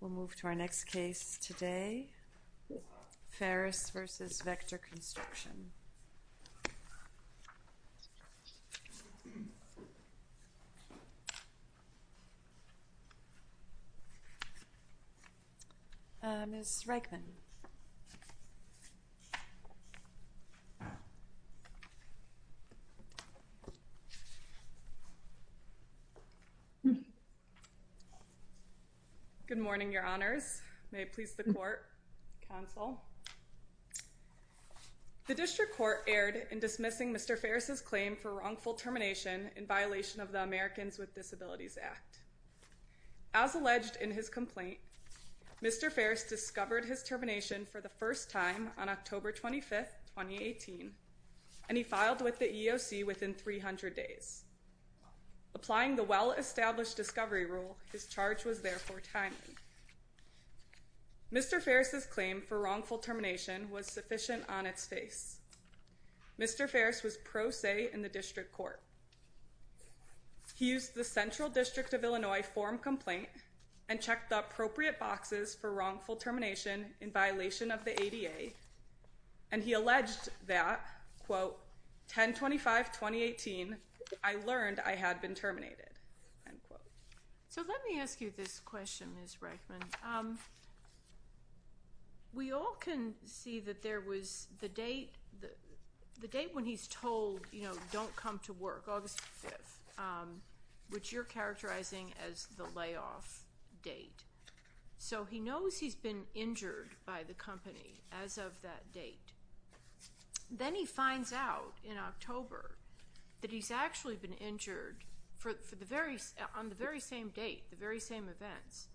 We'll move to our next case today, Farris v. Vector Construction. Ms. Reichman. Good morning, your honors. May it please the court, counsel. The district court erred in dismissing Mr. Farris's claim for wrongful termination in violation of the Americans with Disabilities Act. As alleged in his complaint, Mr. Farris discovered his termination for the first time on October 25, 2018. And he filed with the EEOC within 300 days. Applying the well-established discovery rule, his charge was therefore timely. Mr. Farris's claim for wrongful termination was sufficient on its face. Mr. Farris was pro se in the district court. He used the Central District of Illinois form complaint and checked the appropriate boxes for wrongful termination in violation of the ADA. And he alleged that, quote, 10-25-2018, I learned I had been terminated, end quote. So let me ask you this question, Ms. Reichman. We all can see that there was the date, the date when he's told, you know, don't come to work, August 5, which you're characterizing as the layoff date. So he knows he's been injured by the company as of that date. Then he finds out in October that he's actually been injured for the very, on the very same date, the very same events,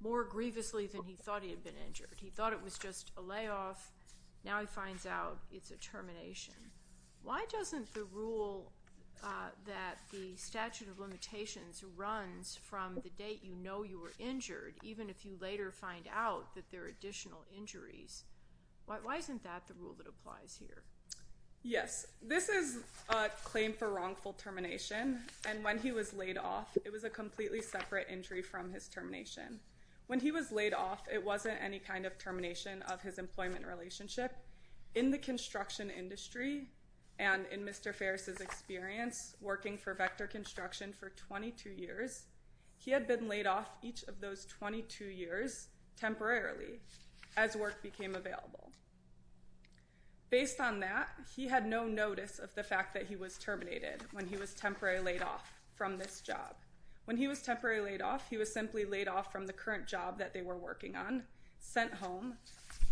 more grievously than he thought he had been injured. He thought it was just a layoff. Now he finds out it's a termination. Why doesn't the rule that the statute of limitations runs from the date you know you were injured, even if you later find out that there are additional injuries? Why isn't that the rule that applies here? Yes, this is a claim for wrongful termination. And when he was laid off, it was a completely separate injury from his termination. When he was laid off, it wasn't any kind of termination of his employment relationship. In the construction industry, and in Mr. Ferris's experience working for Vector Construction for 22 years, he had been laid off each of those 22 years temporarily, as work became available. Based on that, he had no notice of the fact that he was terminated when he was temporarily laid off from this job. When he was temporarily laid off, he was simply laid off from the current job that they were working on, sent home,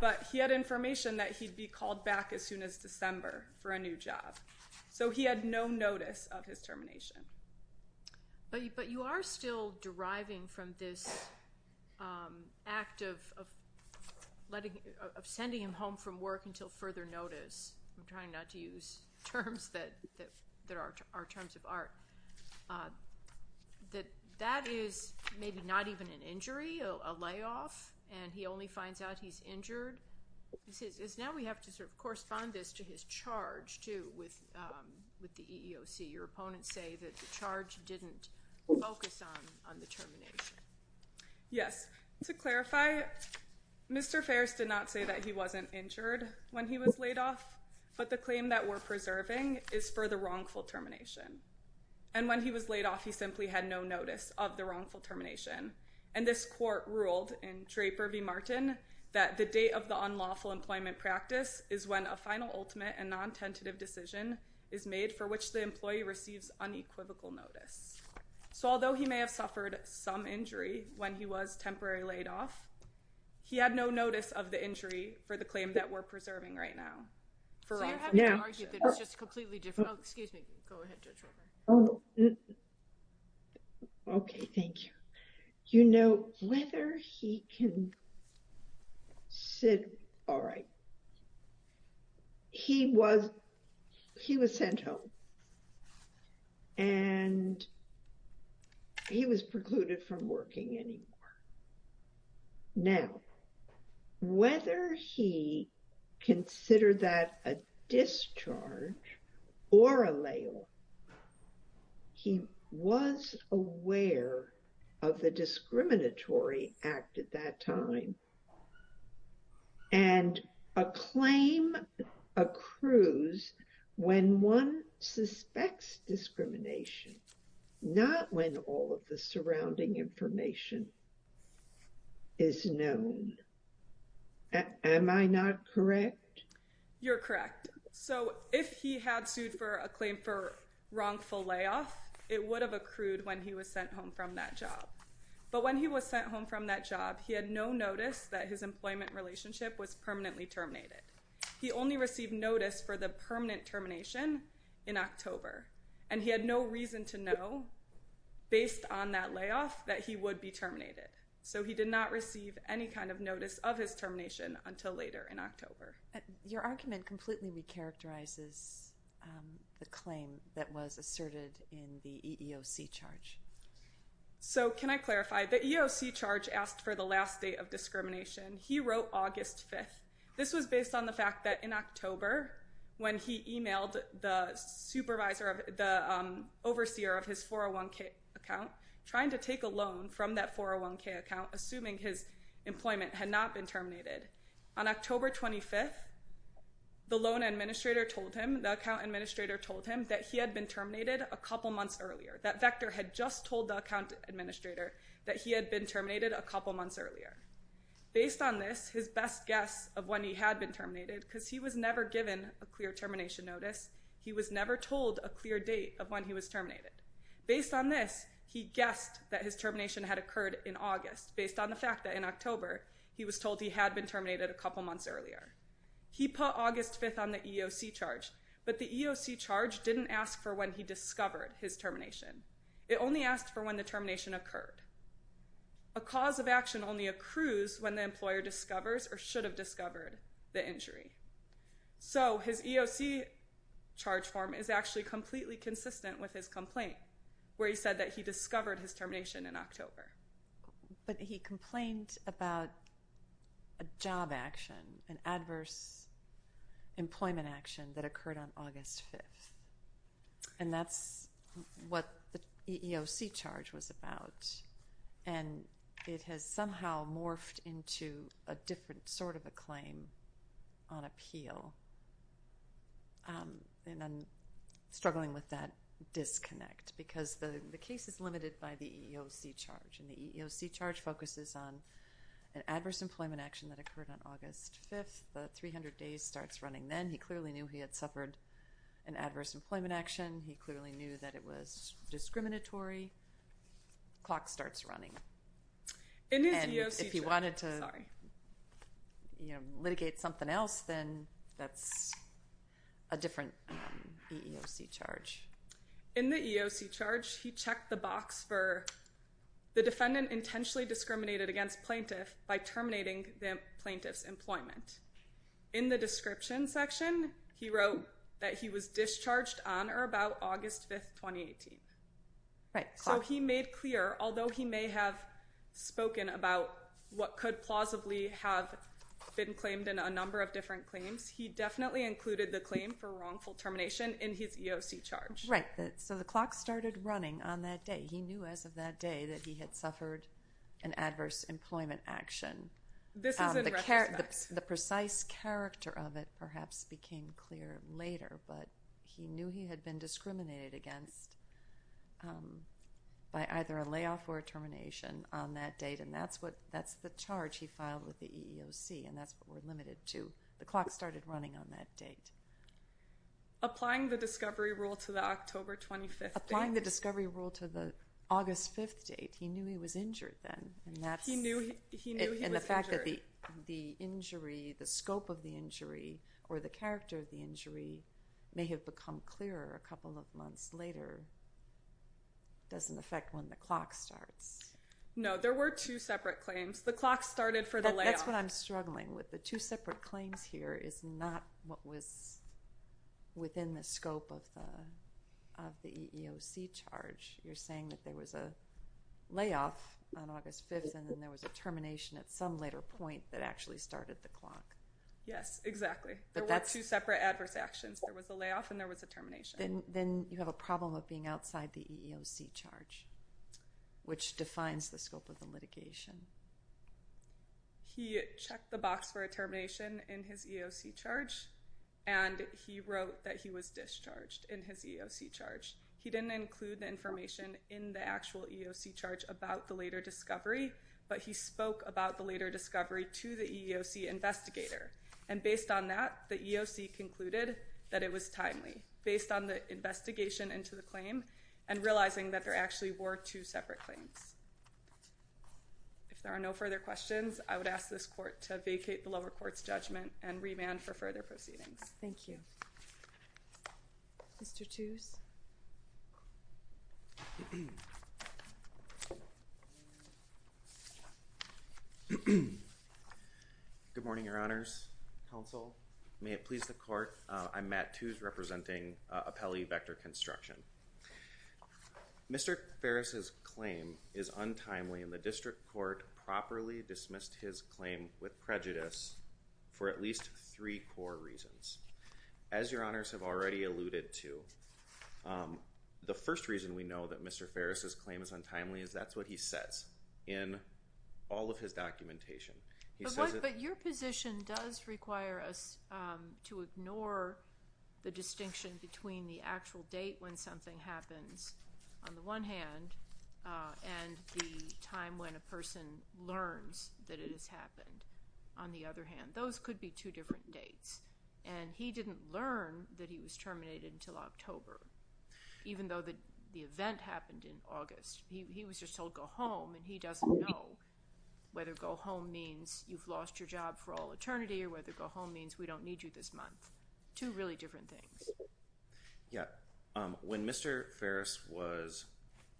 but he had information that he'd be called back as soon as December for a new job. So he had no notice of his termination. But you are still deriving from this act of sending him home from work until further notice. I'm trying not to use terms that are terms of art. That is maybe not even an injury, a layoff, and he only finds out he's injured. Now we have to sort of correspond this to his charge, too, with the EEOC. Your opponents say that the charge didn't focus on the termination. Yes. To clarify, Mr. Ferris did not say that he wasn't injured when he was laid off, but the claim that we're preserving is for the wrongful termination. And when he was laid off, he simply had no notice of the wrongful termination. And this court ruled in Traper v. Martin that the date of the unlawful employment practice is when a final, ultimate, and non-tentative decision is made for which the employee receives unequivocal notice. So although he may have suffered some injury when he was temporarily laid off, he had no notice of the injury for the claim that we're preserving right now. So you're having to argue that it's just completely different. Oh, excuse me. Go ahead, Judge Roper. Oh, okay. Thank you. You know, whether he can sit... All right. He was sent home. And he was precluded from working anymore. Now, whether he considered that a discharge or a layoff, he was aware of the discriminatory act at that time. And a claim accrues when one suspects discrimination, not when all of the surrounding information is known. Am I not correct? You're correct. So if he had sued for a claim for wrongful layoff, it would have accrued when he was sent home from that job. But when he was sent home from that job, he had no notice that his employment relationship was permanently terminated. He only received notice for the permanent termination in October. And he had no reason to that layoff that he would be terminated. So he did not receive any kind of notice of his termination until later in October. Your argument completely recharacterizes the claim that was asserted in the EEOC charge. So can I clarify? The EEOC charge asked for the last date of discrimination. He wrote August 5th. This was based on the fact that in October, when he emailed the overseer of his 401k account, trying to take a loan from that 401k account, assuming his employment had not been terminated, on October 25th, the loan administrator told him, the account administrator told him that he had been terminated a couple months earlier. That vector had just told the account administrator that he had been terminated a couple months earlier. Based on this, his best guess of when he had been terminated, because he was never given a clear termination notice, he was never told a clear date of when he was terminated. Based on this, he guessed that his termination had occurred in August, based on the fact that in October, he was told he had been terminated a couple months earlier. He put August 5th on the EEOC charge, but the EEOC charge didn't ask for when he discovered his termination. It only asked for when the termination occurred. A cause of action only accrues when the employer discovers or should have discovered the injury. So his EEOC charge form is actually completely consistent with his complaint, where he said that he discovered his termination in October. But he complained about a job action, an adverse employment action that occurred on August 5th. And that's what the EEOC charge was about. And it has somehow morphed into a different sort of a claim on appeal. And I'm struggling with that disconnect, because the case is limited by the EEOC charge. And the EEOC charge focuses on an adverse employment action that occurred on August 5th. The 300 days starts running then. He clearly knew he had suffered an adverse employment action. He clearly knew that it was discriminatory. Clock starts running. And if he wanted to litigate something else, then that's a different EEOC charge. In the EEOC charge, he checked the box for the defendant intentionally discriminated against plaintiff by terminating the plaintiff's employment. In the description section, he wrote that he was discharged on or about August 5th, 2018. So he made clear, although he may have spoken about what could plausibly have been claimed in a number of different claims, he definitely included the claim for wrongful termination in his EEOC charge. Right. So the clock started running on that day. He knew as of that day that he had suffered an adverse employment action. This is in retrospect. The precise character of it perhaps became clear later, but he knew he had been discriminated against by either a layoff or a termination on that date. And that's the charge he filed with the EEOC, and that's what we're limited to. The clock started running on that date. Applying the discovery rule to the October 25th date. Applying the discovery rule to the August 5th date. He knew he was injured then. He knew he was injured. And the fact that the injury, the scope of the injury, or the character of the injury may have become clearer a couple of months later doesn't affect when the clock starts. No, there were two separate claims. The clock started for the layoff. That's what I'm struggling with. The two separate claims here is not what was within the scope of the EEOC charge. You're saying that there was a layoff on August 5th and then there was a termination at some later point that actually started the clock. Yes, exactly. There were two separate adverse actions. There was a layoff and there was a termination. Then you have a problem of being outside the EEOC charge, which defines the scope of the litigation. He checked the box for a termination in his EEOC charge, and he wrote that he was discharged in his EEOC charge. He didn't include the information in the actual EEOC charge about the later discovery, but he spoke about the later discovery to the EEOC investigator. And based on that, the EEOC concluded that it was timely. Based on the investigation into the claim and realizing that there actually were two separate claims. If there are no further questions, I would ask this court to vacate the lower court's judgment and remand for further proceedings. Thank you. Mr. Tews. Good morning, Your Honors. Counsel, may it please the court. I'm Matt Tews representing Appellee Vector Construction. Mr. Ferris's claim is untimely, and the district court properly dismissed his claim with prejudice for at least three core reasons. As Your Honors have already alluded to, the first reason we know that Mr. Ferris's claim is untimely is that's what he says in all of his documentation. But your position does require us to ignore the distinction between the actual date when something happens, on the one hand, and the time when a person learns that it has happened, on the other hand. Those could be two different dates. And he didn't learn that he was terminated until October, even though the event happened in August. He was just told go home, and he doesn't know whether go home means you've lost your job for all eternity, or whether go home means we don't need you this month. Two really different things. Yeah. When Mr. Ferris was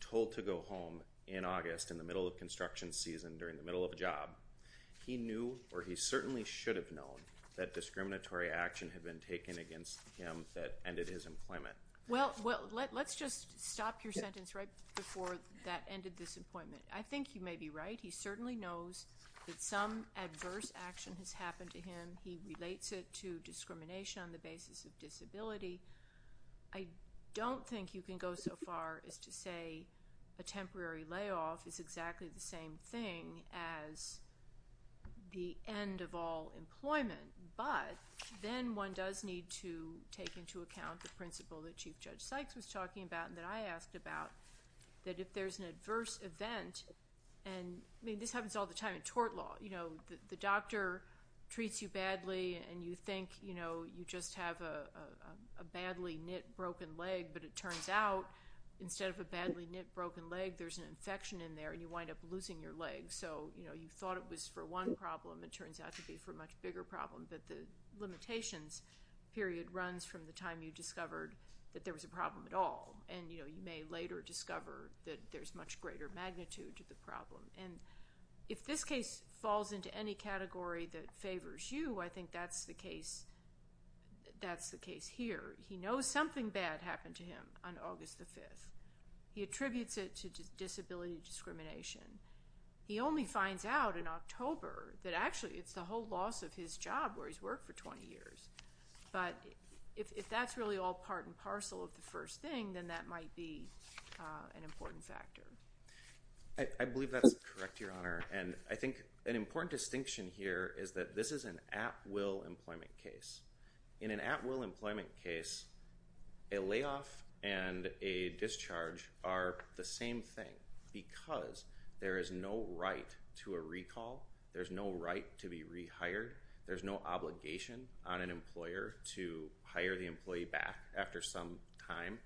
told to go home in August, in the middle of construction season, during the middle of a job, he knew, or he certainly should have known, that discriminatory action had been taken against him that ended his employment. Well, let's just stop your sentence right before that ended this employment. I think you may be right. He certainly knows that some adverse action has happened to him. He relates it to discrimination on the basis of disability. I don't think you can go so far as to say a temporary layoff is exactly the same thing as the end of all employment. But then one does need to take into account the principle that Chief Judge Sykes was talking about and that I asked about, that if there's an adverse event, and this happens all the time in tort law. The doctor treats you badly, and you think you just have a badly knit, broken leg, but it turns out instead of a badly knit, broken leg, there's an infection in there, and you wind up losing your leg. So you thought it was for one problem. It turns out to be for a much bigger problem. But the limitations period runs from the time you discovered that there was a problem at all, and you may later discover that there's much greater magnitude to the problem. And if this case falls into any category that favors you, I think that's the case here. He knows something bad happened to him on August the 5th. He attributes it to disability discrimination. He only finds out in October that actually it's the whole loss of his job where he's worked for 20 years. But if that's really all part and parcel of the first thing, then that might be an important factor. I believe that's correct, Your Honor, and I think an important distinction here is that this is an at-will employment case. In an at-will employment case, a layoff and a discharge are the same thing because there is no right to a recall. There's no right to be rehired. There's no obligation on an employer to hire the employee back after some time.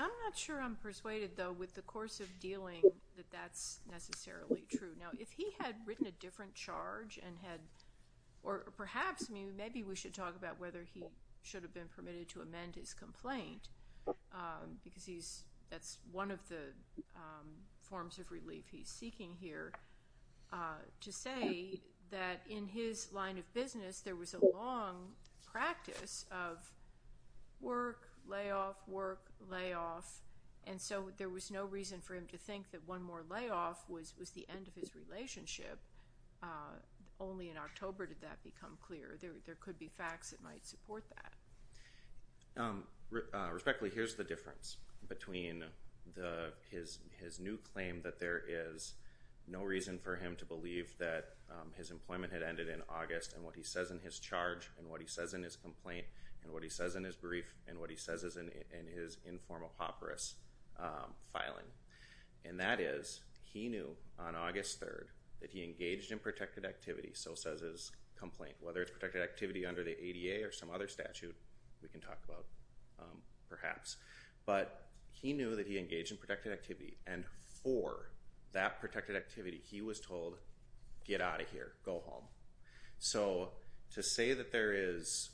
I'm not sure I'm persuaded, though, with the course of dealing that that's necessarily true. Now, if he had written a different charge and had or perhaps maybe we should talk about whether he should have been permitted to amend his complaint because that's one of the forms of relief he's seeking here, to say that in his line of business there was a long practice of work, layoff, work, layoff, and so there was no reason for him to think that one more layoff was the end of his relationship. Only in October did that become clear. There could be facts that might support that. Respectfully, here's the difference between his new claim that there is no reason for him to believe that his employment had ended in August and what he says in his charge and what he says in his complaint and what he says in his brief and what he says in his informal papyrus filing, and that is he knew on August 3rd that he engaged in protected activity, so says his complaint, whether it's protected activity under the ADA or some other statute we can talk about perhaps, but he knew that he engaged in protected activity and for that protected activity he was told, get out of here, go home. So to say that there is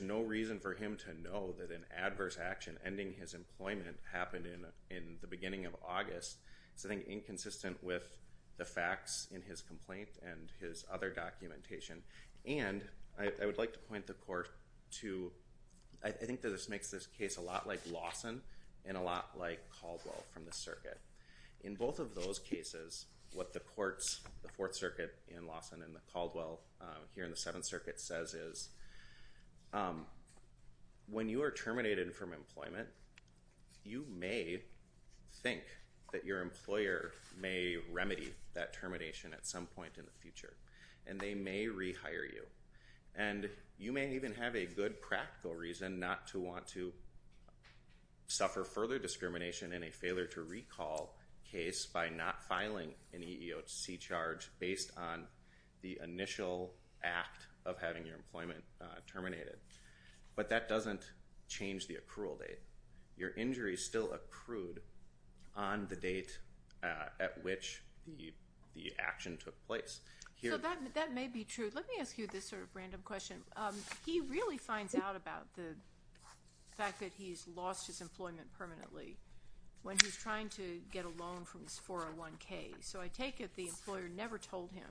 no reason for him to know that an adverse action ending his employment happened in the beginning of August is something inconsistent with the facts in his complaint and his other documentation, and I would like to point the court to, I think that this makes this case a lot like Lawson and a lot like Caldwell from the circuit. In both of those cases, what the courts, the Fourth Circuit in Lawson and the Caldwell here in the Seventh Circuit, says is when you are terminated from employment, you may think that your employer may remedy that termination at some point in the future and they may rehire you and you may even have a good practical reason not to want to suffer further discrimination in a failure to recall case by not filing an EEOC charge based on the initial act of having your employment terminated, but that doesn't change the accrual date. Your injury is still accrued on the date at which the action took place. So that may be true. Let me ask you this sort of random question. He really finds out about the fact that he's lost his employment permanently when he's trying to get a loan from his 401K. So I take it the employer never told him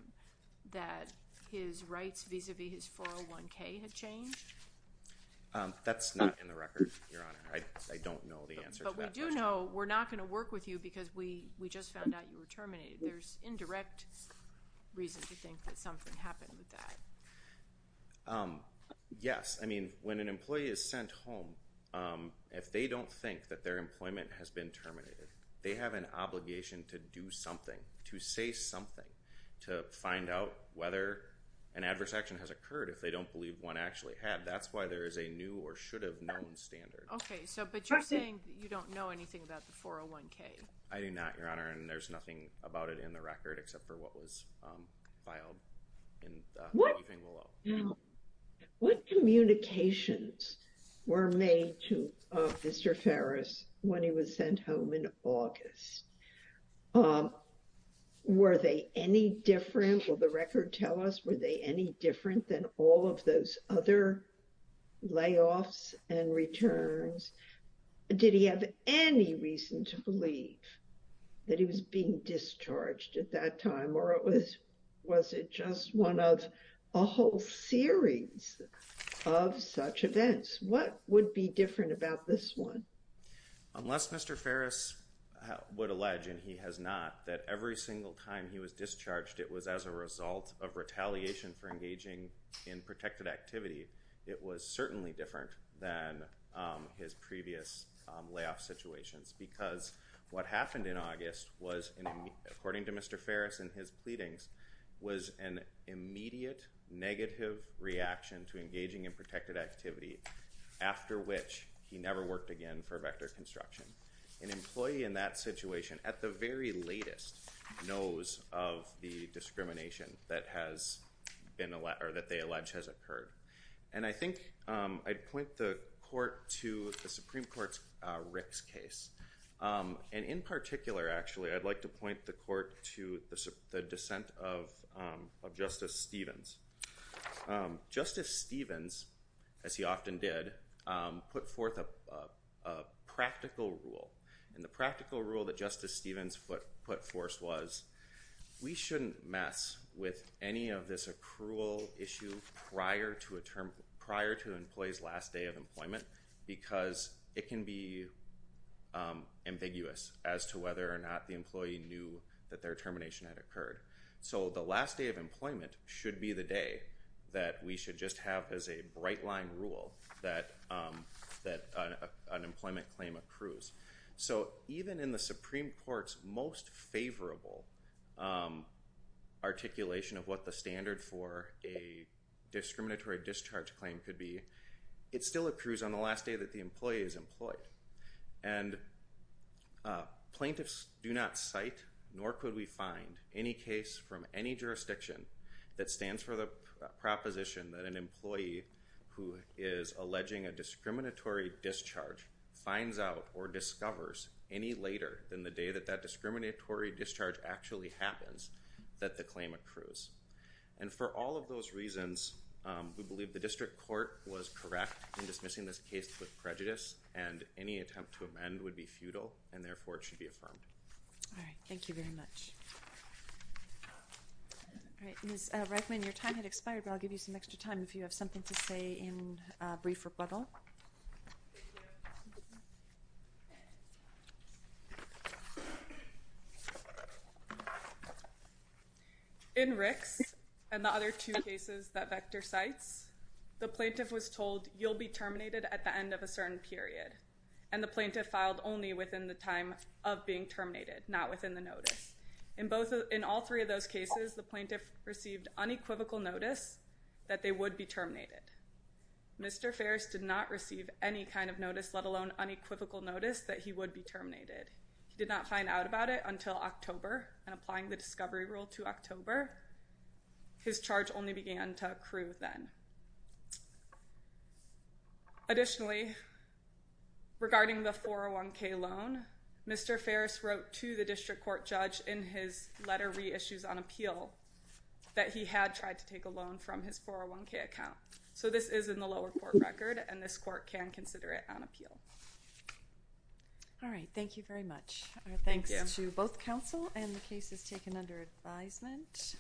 that his rights vis-à-vis his 401K had changed? That's not in the record, Your Honor. I don't know the answer to that question. But we do know we're not going to work with you because we just found out you were terminated. There's indirect reason to think that something happened with that. Yes. I mean, when an employee is sent home, if they don't think that their employment has been terminated, they have an obligation to do something, to say something, to find out whether an adverse action has occurred if they don't believe one actually had. That's why there is a new or should have known standard. Okay. But you're saying you don't know anything about the 401K. I do not, Your Honor. And there's nothing about it in the record except for what was filed in the briefing below. What communications were made to Mr. Ferris when he was sent home in August? Were they any different? Will the record tell us were they any different than all of those other layoffs and returns? Did he have any reason to believe that he was being discharged at that time? Or was it just one of a whole series of such events? What would be different about this one? Unless Mr. Ferris would allege, and he has not, that every single time he was discharged, it was as a result of retaliation for engaging in protected activity, it was certainly different than his previous layoff situations because what happened in August was, according to Mr. Ferris in his pleadings, was an immediate negative reaction to engaging in protected activity, after which he never worked again for Vector Construction. An employee in that situation at the very latest knows of the discrimination that they allege has occurred. And I think I'd point the court to the Supreme Court's Rick's case. And in particular, actually, I'd like to point the court to the dissent of Justice Stevens. Justice Stevens, as he often did, put forth a practical rule. And the practical rule that Justice Stevens put forth was, we shouldn't mess with any of this accrual issue prior to an employee's last day of employment because it can be ambiguous as to whether or not the employee knew that their termination had occurred. So the last day of employment should be the day that we should just have as a bright line rule that an employment claim accrues. So even in the Supreme Court's most favorable articulation of what the standard for a discriminatory discharge claim could be, it still accrues on the last day that the employee is employed. And plaintiffs do not cite, nor could we find, any case from any jurisdiction that stands for the proposition that an employee who is alleging a discriminatory discharge finds out or discovers any later than the day that that discriminatory discharge actually happens, that the claim accrues. And for all of those reasons, we believe the district court was correct in dismissing this case with prejudice, and any attempt to amend would be futile, and therefore, it should be affirmed. All right. Thank you very much. All right. Ms. Reichman, your time had expired, but I'll give you some extra time if you have something to say in brief rebuttal. Thank you. In Ricks and the other two cases that Vector cites, the plaintiff was told, you'll be terminated at the end of a certain period, and the plaintiff filed only within the time of being terminated, not within the notice. In all three of those cases, the plaintiff received unequivocal notice that they would be terminated. Mr. Ferris did not receive any kind of notice, let alone unequivocal notice, that he would be terminated. He did not find out about it until October, and applying the discovery rule to October, his charge only began to accrue then. Additionally, regarding the 401K loan, Mr. Ferris wrote to the district court judge in his letter reissues on appeal that he had tried to take a loan from his 401K account. So this is in the lower court record, and this court can consider it on appeal. All right. Thank you very much. Thanks to both counsel and the cases taken under advisement.